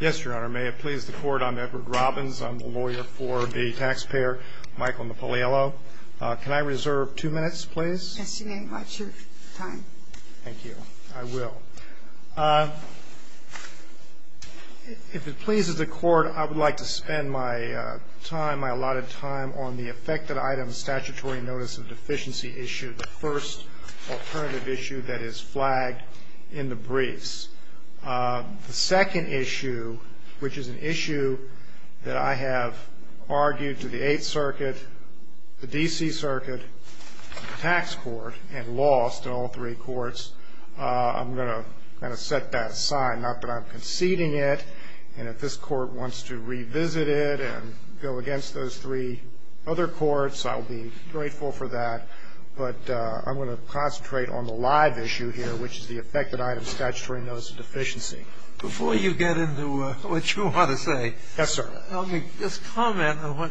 Yes, Your Honor, may it please the Court, I'm Edward Robbins, I'm the lawyer for the taxpayer Michael Napoliello. Can I reserve two minutes, please? Yes, you may. Watch your time. Thank you. I will. If it pleases the Court, I would like to spend my time, my allotted time, on the affected items statutory notice of deficiency issue, the first alternative issue that is flagged in the briefs. The second issue, which is an issue that I have argued to the Eighth Circuit, the D.C. Circuit, and the tax court, and lost in all three courts, I'm going to kind of set that aside, not that I'm conceding it. And if this Court wants to revisit it and go against those three other courts, I'll be grateful for that. But I'm going to concentrate on the live issue here, which is the affected items statutory notice of deficiency. Before you get into what you want to say, let me just comment on what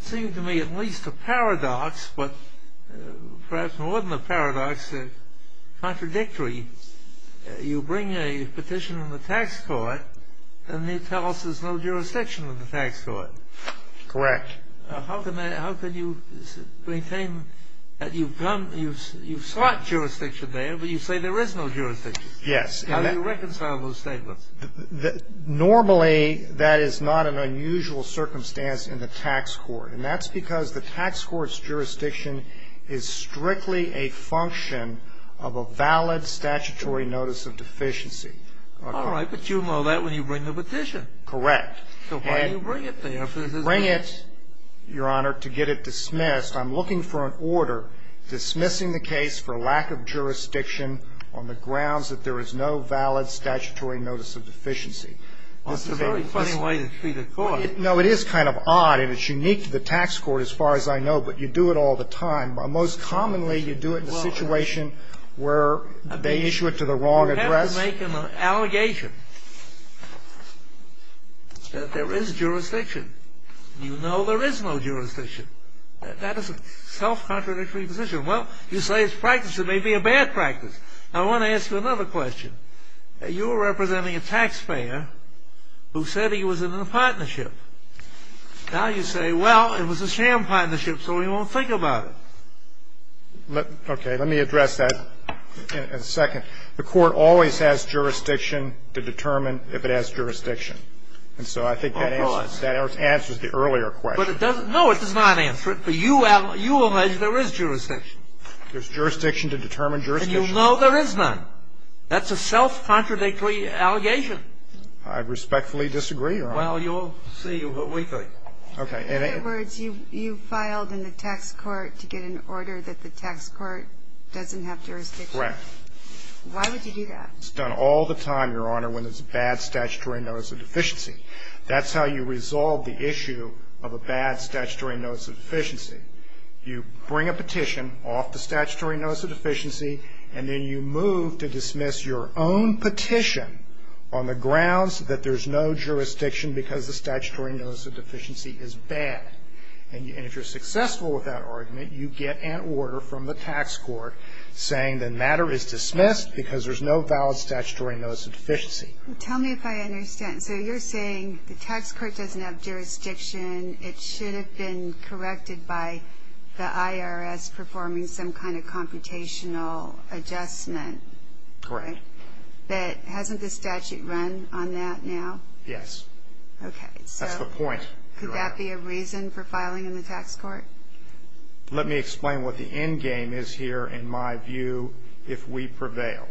seemed to me at least a paradox, but perhaps more than a paradox, contradictory. You bring a petition in the tax court, and you tell us there's no jurisdiction in the tax court. Correct. How can you maintain that you've sought jurisdiction there, but you say there is no jurisdiction? Yes. How do you reconcile those statements? Normally, that is not an unusual circumstance in the tax court. And that's because the tax court's jurisdiction is strictly a function of a valid statutory notice of deficiency. All right. But you know that when you bring the petition. Correct. So why do you bring it there? Bring it, Your Honor, to get it dismissed. I'm looking for an order dismissing the case for lack of jurisdiction on the grounds that there is no valid statutory notice of deficiency. Well, it's a very funny way to treat a court. No, it is kind of odd, and it's unique to the tax court as far as I know, but you do it all the time. Most commonly, you do it in a situation where they issue it to the wrong address. You make an allegation that there is jurisdiction. You know there is no jurisdiction. That is a self-contradictory position. Well, you say it's practice. It may be a bad practice. Now, I want to ask you another question. You're representing a taxpayer who said he was in a partnership. Now you say, well, it was a sham partnership, so he won't think about it. Okay. Let me address that in a second. The court always has jurisdiction to determine if it has jurisdiction. And so I think that answers the earlier question. No, it does not answer it. But you allege there is jurisdiction. There's jurisdiction to determine jurisdiction. And you know there is none. That's a self-contradictory allegation. I respectfully disagree, Your Honor. Well, you'll see what we think. Okay. In other words, you filed in the tax court to get an order that the tax court doesn't have jurisdiction. Right. Why would you do that? It's done all the time, Your Honor, when there's a bad statutory notice of deficiency. That's how you resolve the issue of a bad statutory notice of deficiency. You bring a petition off the statutory notice of deficiency, and then you move to dismiss your own petition on the grounds that there's no jurisdiction because the statutory notice of deficiency is bad. And if you're successful with that argument, you get an order from the tax court saying the matter is dismissed because there's no valid statutory notice of deficiency. Tell me if I understand. So you're saying the tax court doesn't have jurisdiction. It should have been corrected by the IRS performing some kind of computational adjustment. Correct. But hasn't the statute run on that now? Yes. Okay. That's the point, Your Honor. So could that be a reason for filing in the tax court? Let me explain what the end game is here, in my view, if we prevail.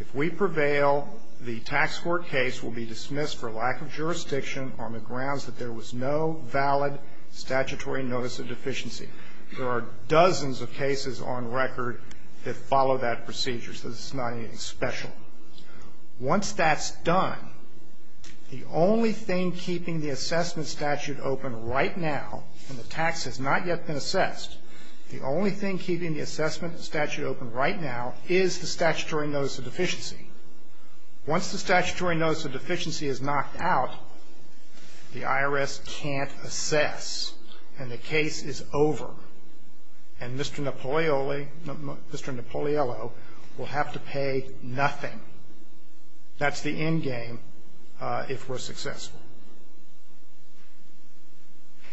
If we prevail, the tax court case will be dismissed for lack of jurisdiction on the grounds that there was no valid statutory notice of deficiency. There are dozens of cases on record that follow that procedure, so this is not anything special. Once that's done, the only thing keeping the assessment statute open right now when the tax has not yet been assessed, the only thing keeping the assessment statute open right now is the statutory notice of deficiency. Once the statutory notice of deficiency is knocked out, the IRS can't assess, and the case is over. And Mr. Napoliello will have to pay nothing. That's the end game if we're successful.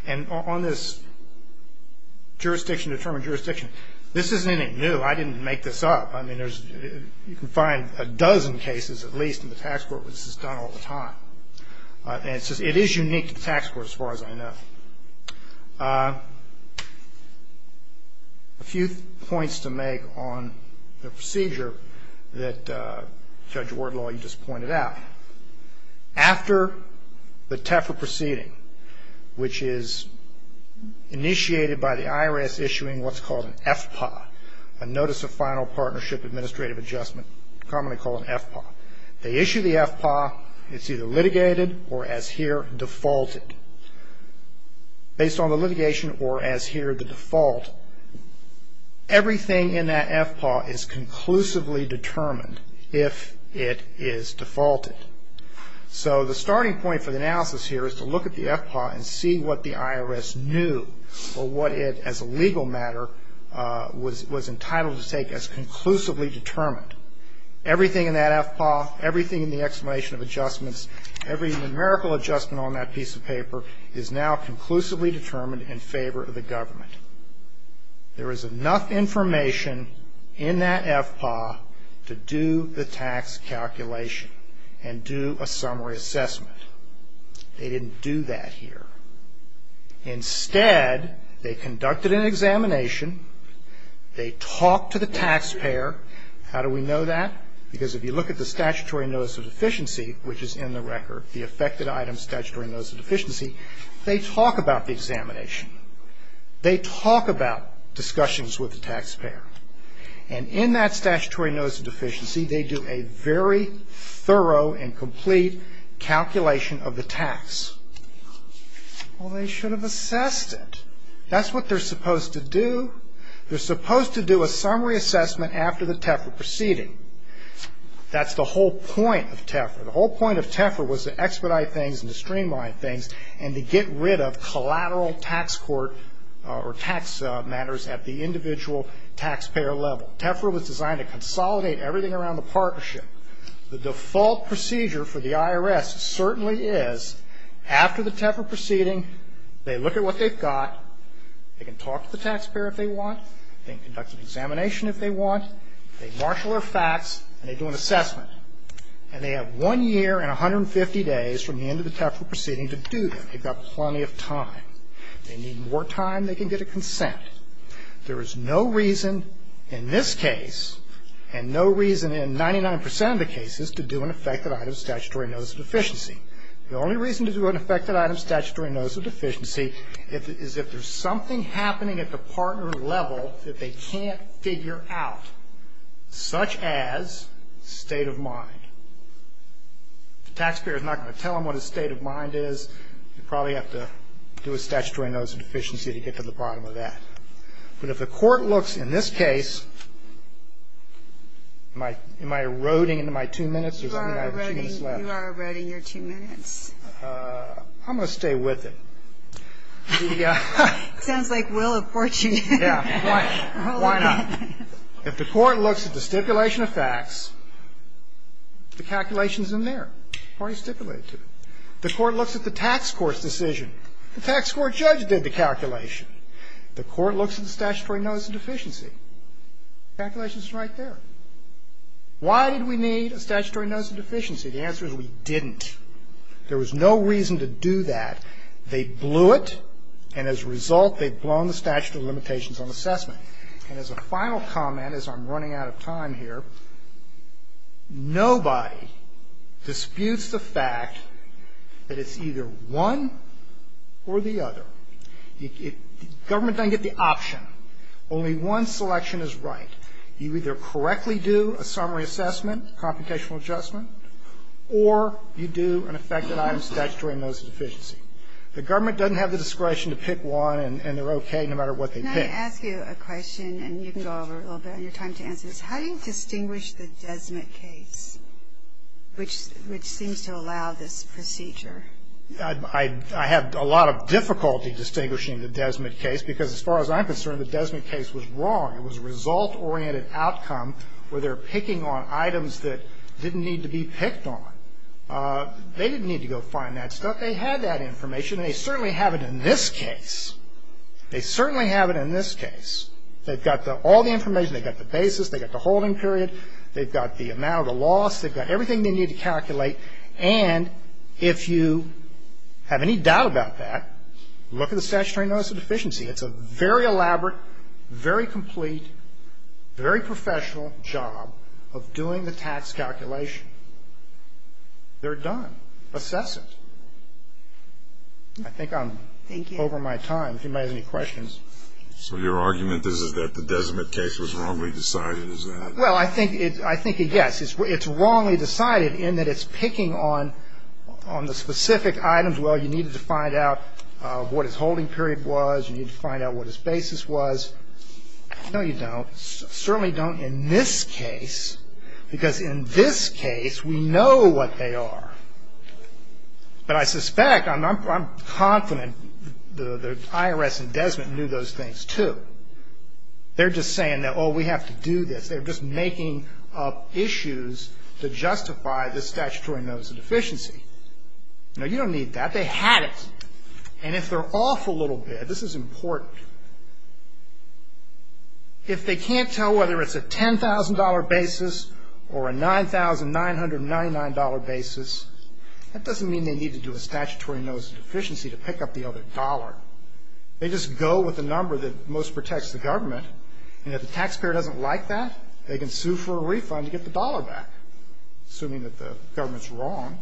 And on this jurisdiction-determined jurisdiction, this isn't anything new. I didn't make this up. I mean, you can find a dozen cases at least in the tax court where this is done all the time. And it is unique to the tax court as far as I know. A few points to make on the procedure that Judge Wardlaw, you just pointed out. After the TEFRA proceeding, which is initiated by the IRS issuing what's called an FPA, a Notice of Final Partnership Administrative Adjustment, commonly called an FPA. They issue the FPA. It's either litigated or, as here, defaulted. Based on the litigation or, as here, the default, everything in that FPA is conclusively determined if it is defaulted. So the starting point for the analysis here is to look at the FPA and see what the IRS knew or what it, as a legal matter, was entitled to take as conclusively determined. Everything in that FPA, everything in the explanation of adjustments, every numerical adjustment on that piece of paper is now conclusively determined in favor of the government. There is enough information in that FPA to do the tax calculation and do a summary assessment. They didn't do that here. Instead, they conducted an examination. They talked to the taxpayer. How do we know that? Because if you look at the Statutory Notice of Deficiency, which is in the record, the affected item Statutory Notice of Deficiency, they talk about the examination. They talk about discussions with the taxpayer. And in that Statutory Notice of Deficiency, they do a very thorough and complete calculation of the tax. Well, they should have assessed it. That's what they're supposed to do. They're supposed to do a summary assessment after the TEFR proceeding. That's the whole point of TEFR. The whole point of TEFR was to expedite things and to streamline things and to get rid of collateral tax court or tax matters at the individual taxpayer level. TEFR was designed to consolidate everything around the partnership. The default procedure for the IRS certainly is, after the TEFR proceeding, they look at what they've got. They can talk to the taxpayer if they want. They can conduct an examination if they want. They marshal their facts and they do an assessment. And they have one year and 150 days from the end of the TEFR proceeding to do that. They've got plenty of time. They need more time. They can get a consent. There is no reason in this case and no reason in 99 percent of the cases to do an affected item Statutory Notice of Deficiency. The only reason to do an affected item Statutory Notice of Deficiency is if there's something happening at the partner level that they can't figure out, such as state of mind. The taxpayer is not going to tell them what a state of mind is. They probably have to do a Statutory Notice of Deficiency to get to the bottom of that. But if the court looks in this case, am I eroding into my two minutes or do I have two minutes left? You are eroding your two minutes. I'm going to stay with it. It sounds like we'll abort you. Yeah. Why not? If the court looks at the stipulation of facts, the calculation is in there. The party stipulated to it. The court looks at the tax court's decision. The tax court judge did the calculation. The court looks at the Statutory Notice of Deficiency. The calculation is right there. Why did we need a Statutory Notice of Deficiency? The answer is we didn't. There was no reason to do that. They blew it, and as a result, they've blown the statute of limitations on assessment. And as a final comment, as I'm running out of time here, nobody disputes the fact that it's either one or the other. Government doesn't get the option. Only one selection is right. You either correctly do a summary assessment, computational adjustment, or you do an affected item, Statutory Notice of Deficiency. The government doesn't have the discretion to pick one, and they're okay no matter what they pick. Can I ask you a question, and you can go over a little bit on your time to answer this? How do you distinguish the Desmet case, which seems to allow this procedure? I have a lot of difficulty distinguishing the Desmet case, because as far as I'm concerned, the Desmet case was wrong. It was a result-oriented outcome where they're picking on items that didn't need to be picked on. They didn't need to go find that stuff. They had that information, and they certainly have it in this case. They certainly have it in this case. They've got all the information. They've got the basis. They've got the holding period. They've got the amount of loss. They've got everything they need to calculate. And if you have any doubt about that, look at the Statutory Notice of Deficiency. It's a very elaborate, very complete, very professional job of doing the tax calculation. They're done. Assess it. I think I'm over my time. If anybody has any questions. So your argument is that the Desmet case was wrongly decided, is that it? Well, I think it's a yes. It's wrongly decided in that it's picking on the specific items. Well, you needed to find out what his holding period was. You needed to find out what his basis was. No, you don't. Certainly don't in this case, because in this case, we know what they are. But I suspect, I'm confident the IRS and Desmet knew those things, too. They're just saying, oh, we have to do this. They're just making up issues to justify the Statutory Notice of Deficiency. No, you don't need that. They had it. And if they're off a little bit, this is important. If they can't tell whether it's a $10,000 basis or a $9,999 basis, that doesn't mean they need to do a Statutory Notice of Deficiency to pick up the other dollar. They just go with the number that most protects the government. And if the taxpayer doesn't like that, they can sue for a refund to get the dollar back, assuming that the government's wrong.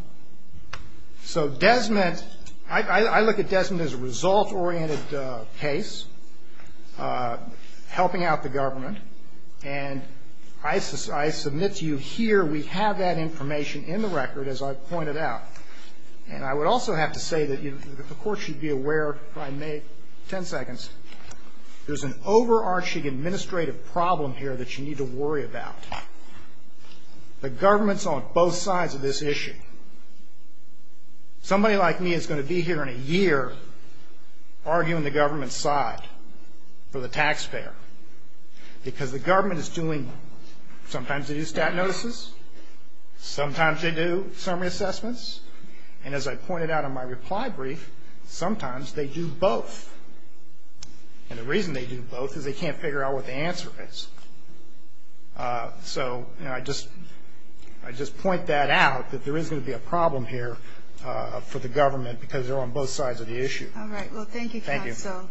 So Desmet, I look at Desmet as a result-oriented case, helping out the government. And I submit to you here, we have that information in the record, as I pointed out. And I would also have to say that the Court should be aware, if I may, 10 seconds, there's an overarching administrative problem here that you need to worry about. The government's on both sides of this issue. Somebody like me is going to be here in a year arguing the government's side for the taxpayer. Because the government is doing, sometimes they do stat notices, sometimes they do summary assessments. And as I pointed out in my reply brief, sometimes they do both. And the reason they do both is they can't figure out what the answer is. So I just point that out, that there is going to be a problem here for the government, because they're on both sides of the issue. All right. Well, thank you for that. Thank you.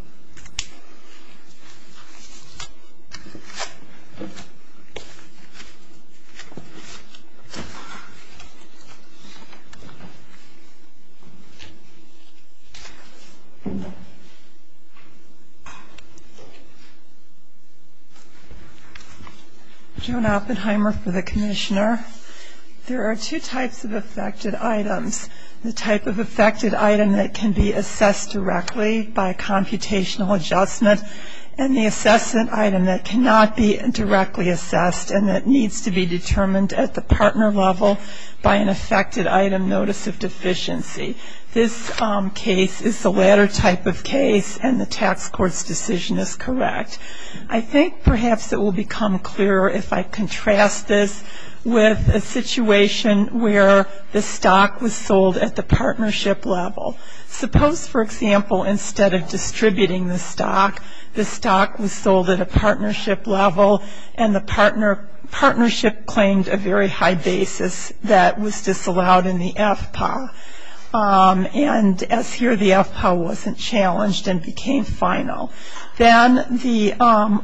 Joan Oppenheimer for the Commissioner. There are two types of affected items. The type of affected item that can be assessed directly by a computational adjustment, and the assessment item that cannot be directly assessed and that needs to be determined at the partner level by an affected item notice of deficiency. This case is the latter type of case, and the tax court's decision is correct. I think perhaps it will become clearer if I contrast this with a situation where the stock was sold at the partnership level. Suppose, for example, instead of distributing the stock, the stock was sold at a partnership level, and the partnership claimed a very high basis that was disallowed in the FPA. And as here, the FPA wasn't challenged and became final. Then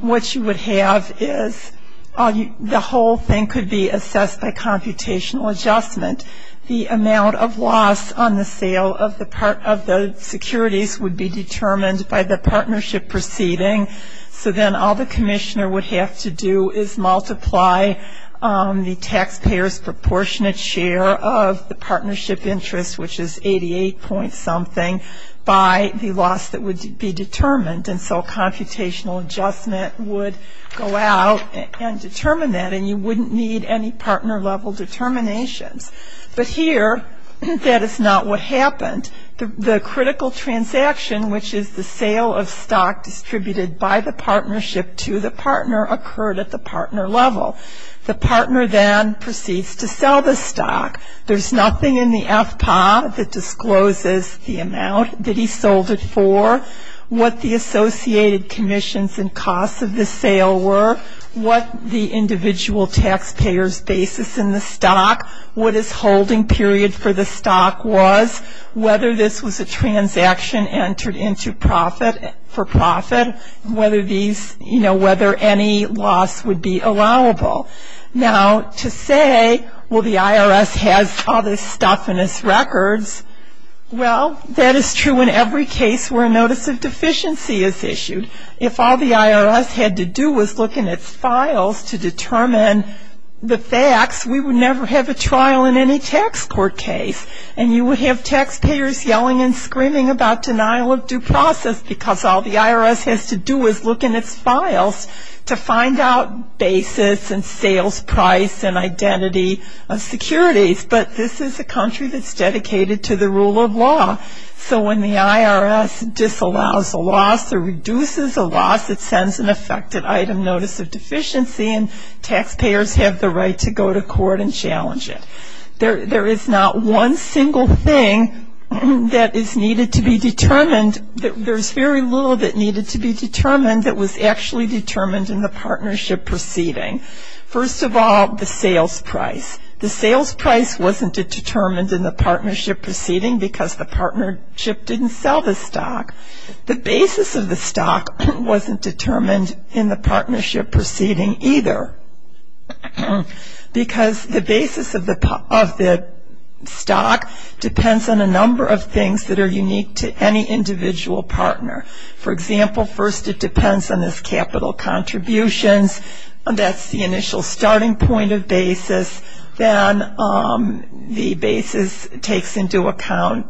what you would have is the whole thing could be assessed by computational adjustment. The amount of loss on the sale of the securities would be determined by the partnership proceeding. So then all the commissioner would have to do is multiply the taxpayer's proportionate share of the partnership interest, which is 88 point something, by the loss that would be determined. And so computational adjustment would go out and determine that, and you wouldn't need any partner level determinations. But here, that is not what happened. The critical transaction, which is the sale of stock distributed by the partnership to the partner, occurred at the partner level. The partner then proceeds to sell the stock. There's nothing in the FPA that discloses the amount that he sold it for, what the associated commissions and costs of the sale were, what the individual taxpayer's basis in the stock, what his holding period for the stock was, whether this was a transaction entered into for profit, whether any loss would be allowable. Now, to say, well, the IRS has all this stuff in its records, well, that is true in every case where a notice of deficiency is issued. If all the IRS had to do was look in its files to determine the facts, we would never have a trial in any tax court case. And you would have taxpayers yelling and screaming about denial of due process, because all the IRS has to do is look in its files to find out basis and sales price and identity of securities. But this is a country that's dedicated to the rule of law. So when the IRS disallows a loss or reduces a loss, it sends an affected item notice of deficiency, and taxpayers have the right to go to court and challenge it. There is not one single thing that is needed to be determined. There's very little that needed to be determined that was actually determined in the partnership proceeding. First of all, the sales price. The sales price wasn't determined in the partnership proceeding because the partnership didn't sell the stock. The basis of the stock wasn't determined in the partnership proceeding either, because the basis of the stock depends on a number of things that are unique to any individual partner. For example, first it depends on its capital contributions. That's the initial starting point of basis. Then the basis takes into account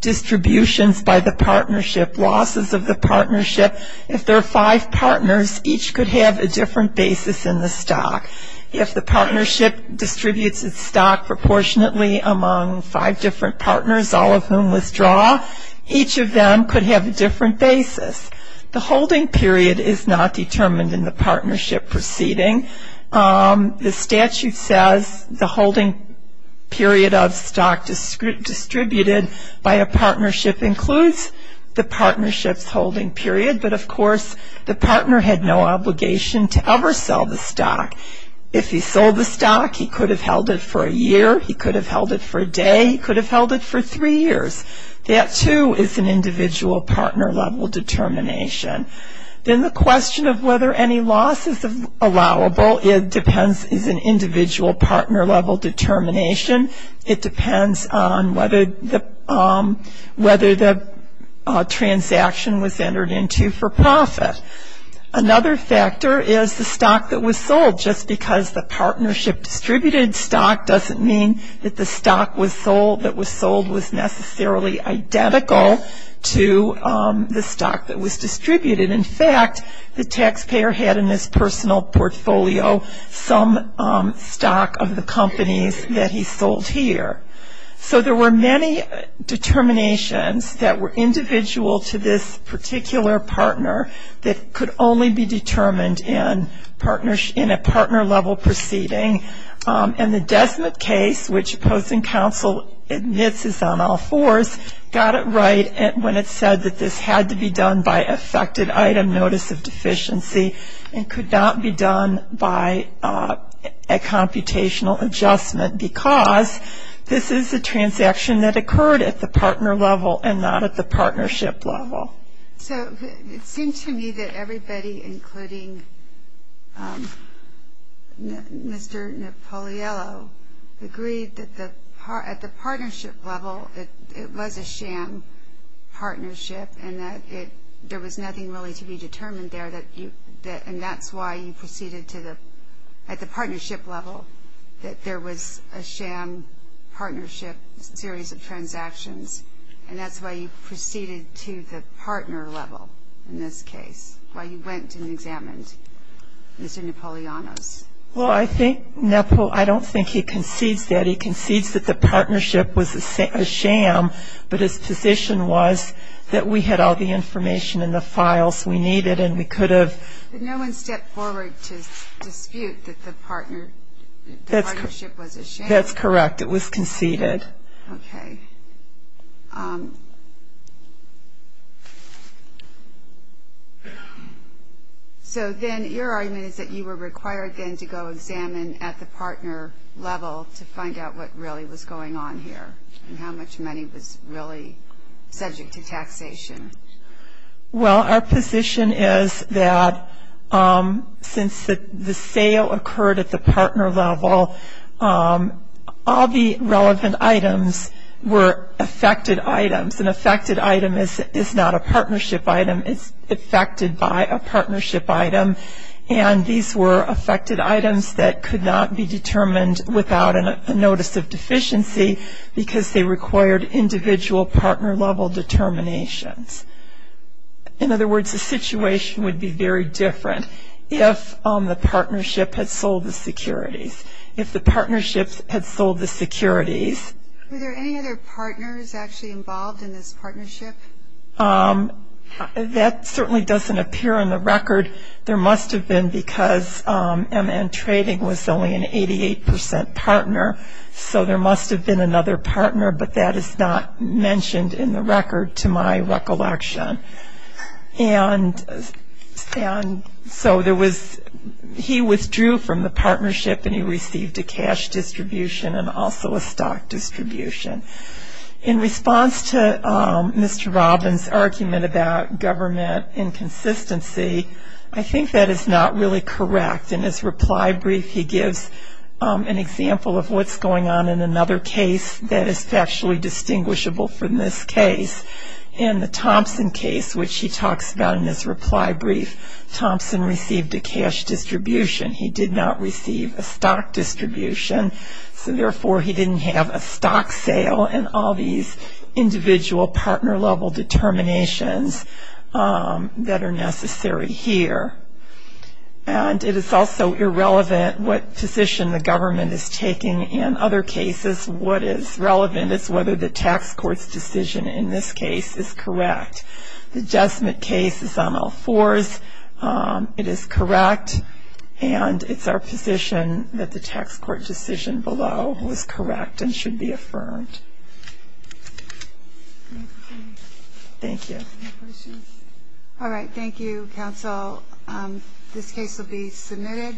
distributions by the partnership, losses of the partnership. If there are five partners, each could have a different basis in the stock. If the partnership distributes its stock proportionately among five different partners, all of whom withdraw, each of them could have a different basis. The holding period is not determined in the partnership proceeding. The statute says the holding period of stock distributed by a partnership includes the partnership's holding period, but of course the partner had no obligation to ever sell the stock. If he sold the stock, he could have held it for a year. He could have held it for a day. He could have held it for three years. That, too, is an individual partner-level determination. Then the question of whether any loss is allowable is an individual partner-level determination. It depends on whether the transaction was entered into for profit. Another factor is the stock that was sold. Just because the partnership distributed stock doesn't mean that the stock that was sold was necessarily identical to the stock that was distributed. In fact, the taxpayer had in his personal portfolio some stock of the companies that he sold here. So there were many determinations that were individual to this particular partner that could only be determined in a partner-level proceeding. And the Desmet case, which Post and Counsel admits is on all fours, got it right when it said that this had to be done by effective item notice of deficiency and could not be done by a computational adjustment because this is a transaction that occurred at the partner level and not at the partnership level. So it seemed to me that everybody, including Mr. Napoliello, agreed that at the partnership level it was a sham partnership and that there was nothing really to be determined there. And that's why you proceeded to the partnership level, that there was a sham partnership series of transactions. And that's why you proceeded to the partner level in this case, why you went and examined Mr. Napoliano's. Well, I don't think he concedes that. He concedes that the partnership was a sham, but his position was that we had all the information and the files we needed and we could have... But no one stepped forward to dispute that the partnership was a sham? That's correct. It was conceded. Okay. So then your argument is that you were required then to go examine at the partner level to find out what really was going on here and how much money was really subject to taxation. Well, our position is that since the sale occurred at the partner level, all the relevant items were affected items. An affected item is not a partnership item. It's affected by a partnership item. And these were affected items that could not be determined without a notice of deficiency because they required individual partner level determinations. In other words, the situation would be very different if the partnership had sold the securities. Were there any other partners actually involved in this partnership? That certainly doesn't appear on the record. There must have been because MN Trading was only an 88% partner, so there must have been another partner, but that is not mentioned in the record to my recollection. And so there was he withdrew from the partnership and he received a cash distribution and also a stock distribution. In response to Mr. Robbins' argument about government inconsistency, I think that is not really correct. In his reply brief he gives an example of what's going on in another case that is factually distinguishable from this case. In the Thompson case, which he talks about in his reply brief, Thompson received a cash distribution. He did not receive a stock distribution, so therefore he didn't have a stock sale and all these individual partner level determinations that are necessary here. And it is also irrelevant what position the government is taking in other cases. What is relevant is whether the tax court's decision in this case is correct. The Jesmet case is on all fours. It is correct and it's our position that the tax court decision below was correct and should be affirmed. Thank you. All right, thank you, counsel. This case will be submitted.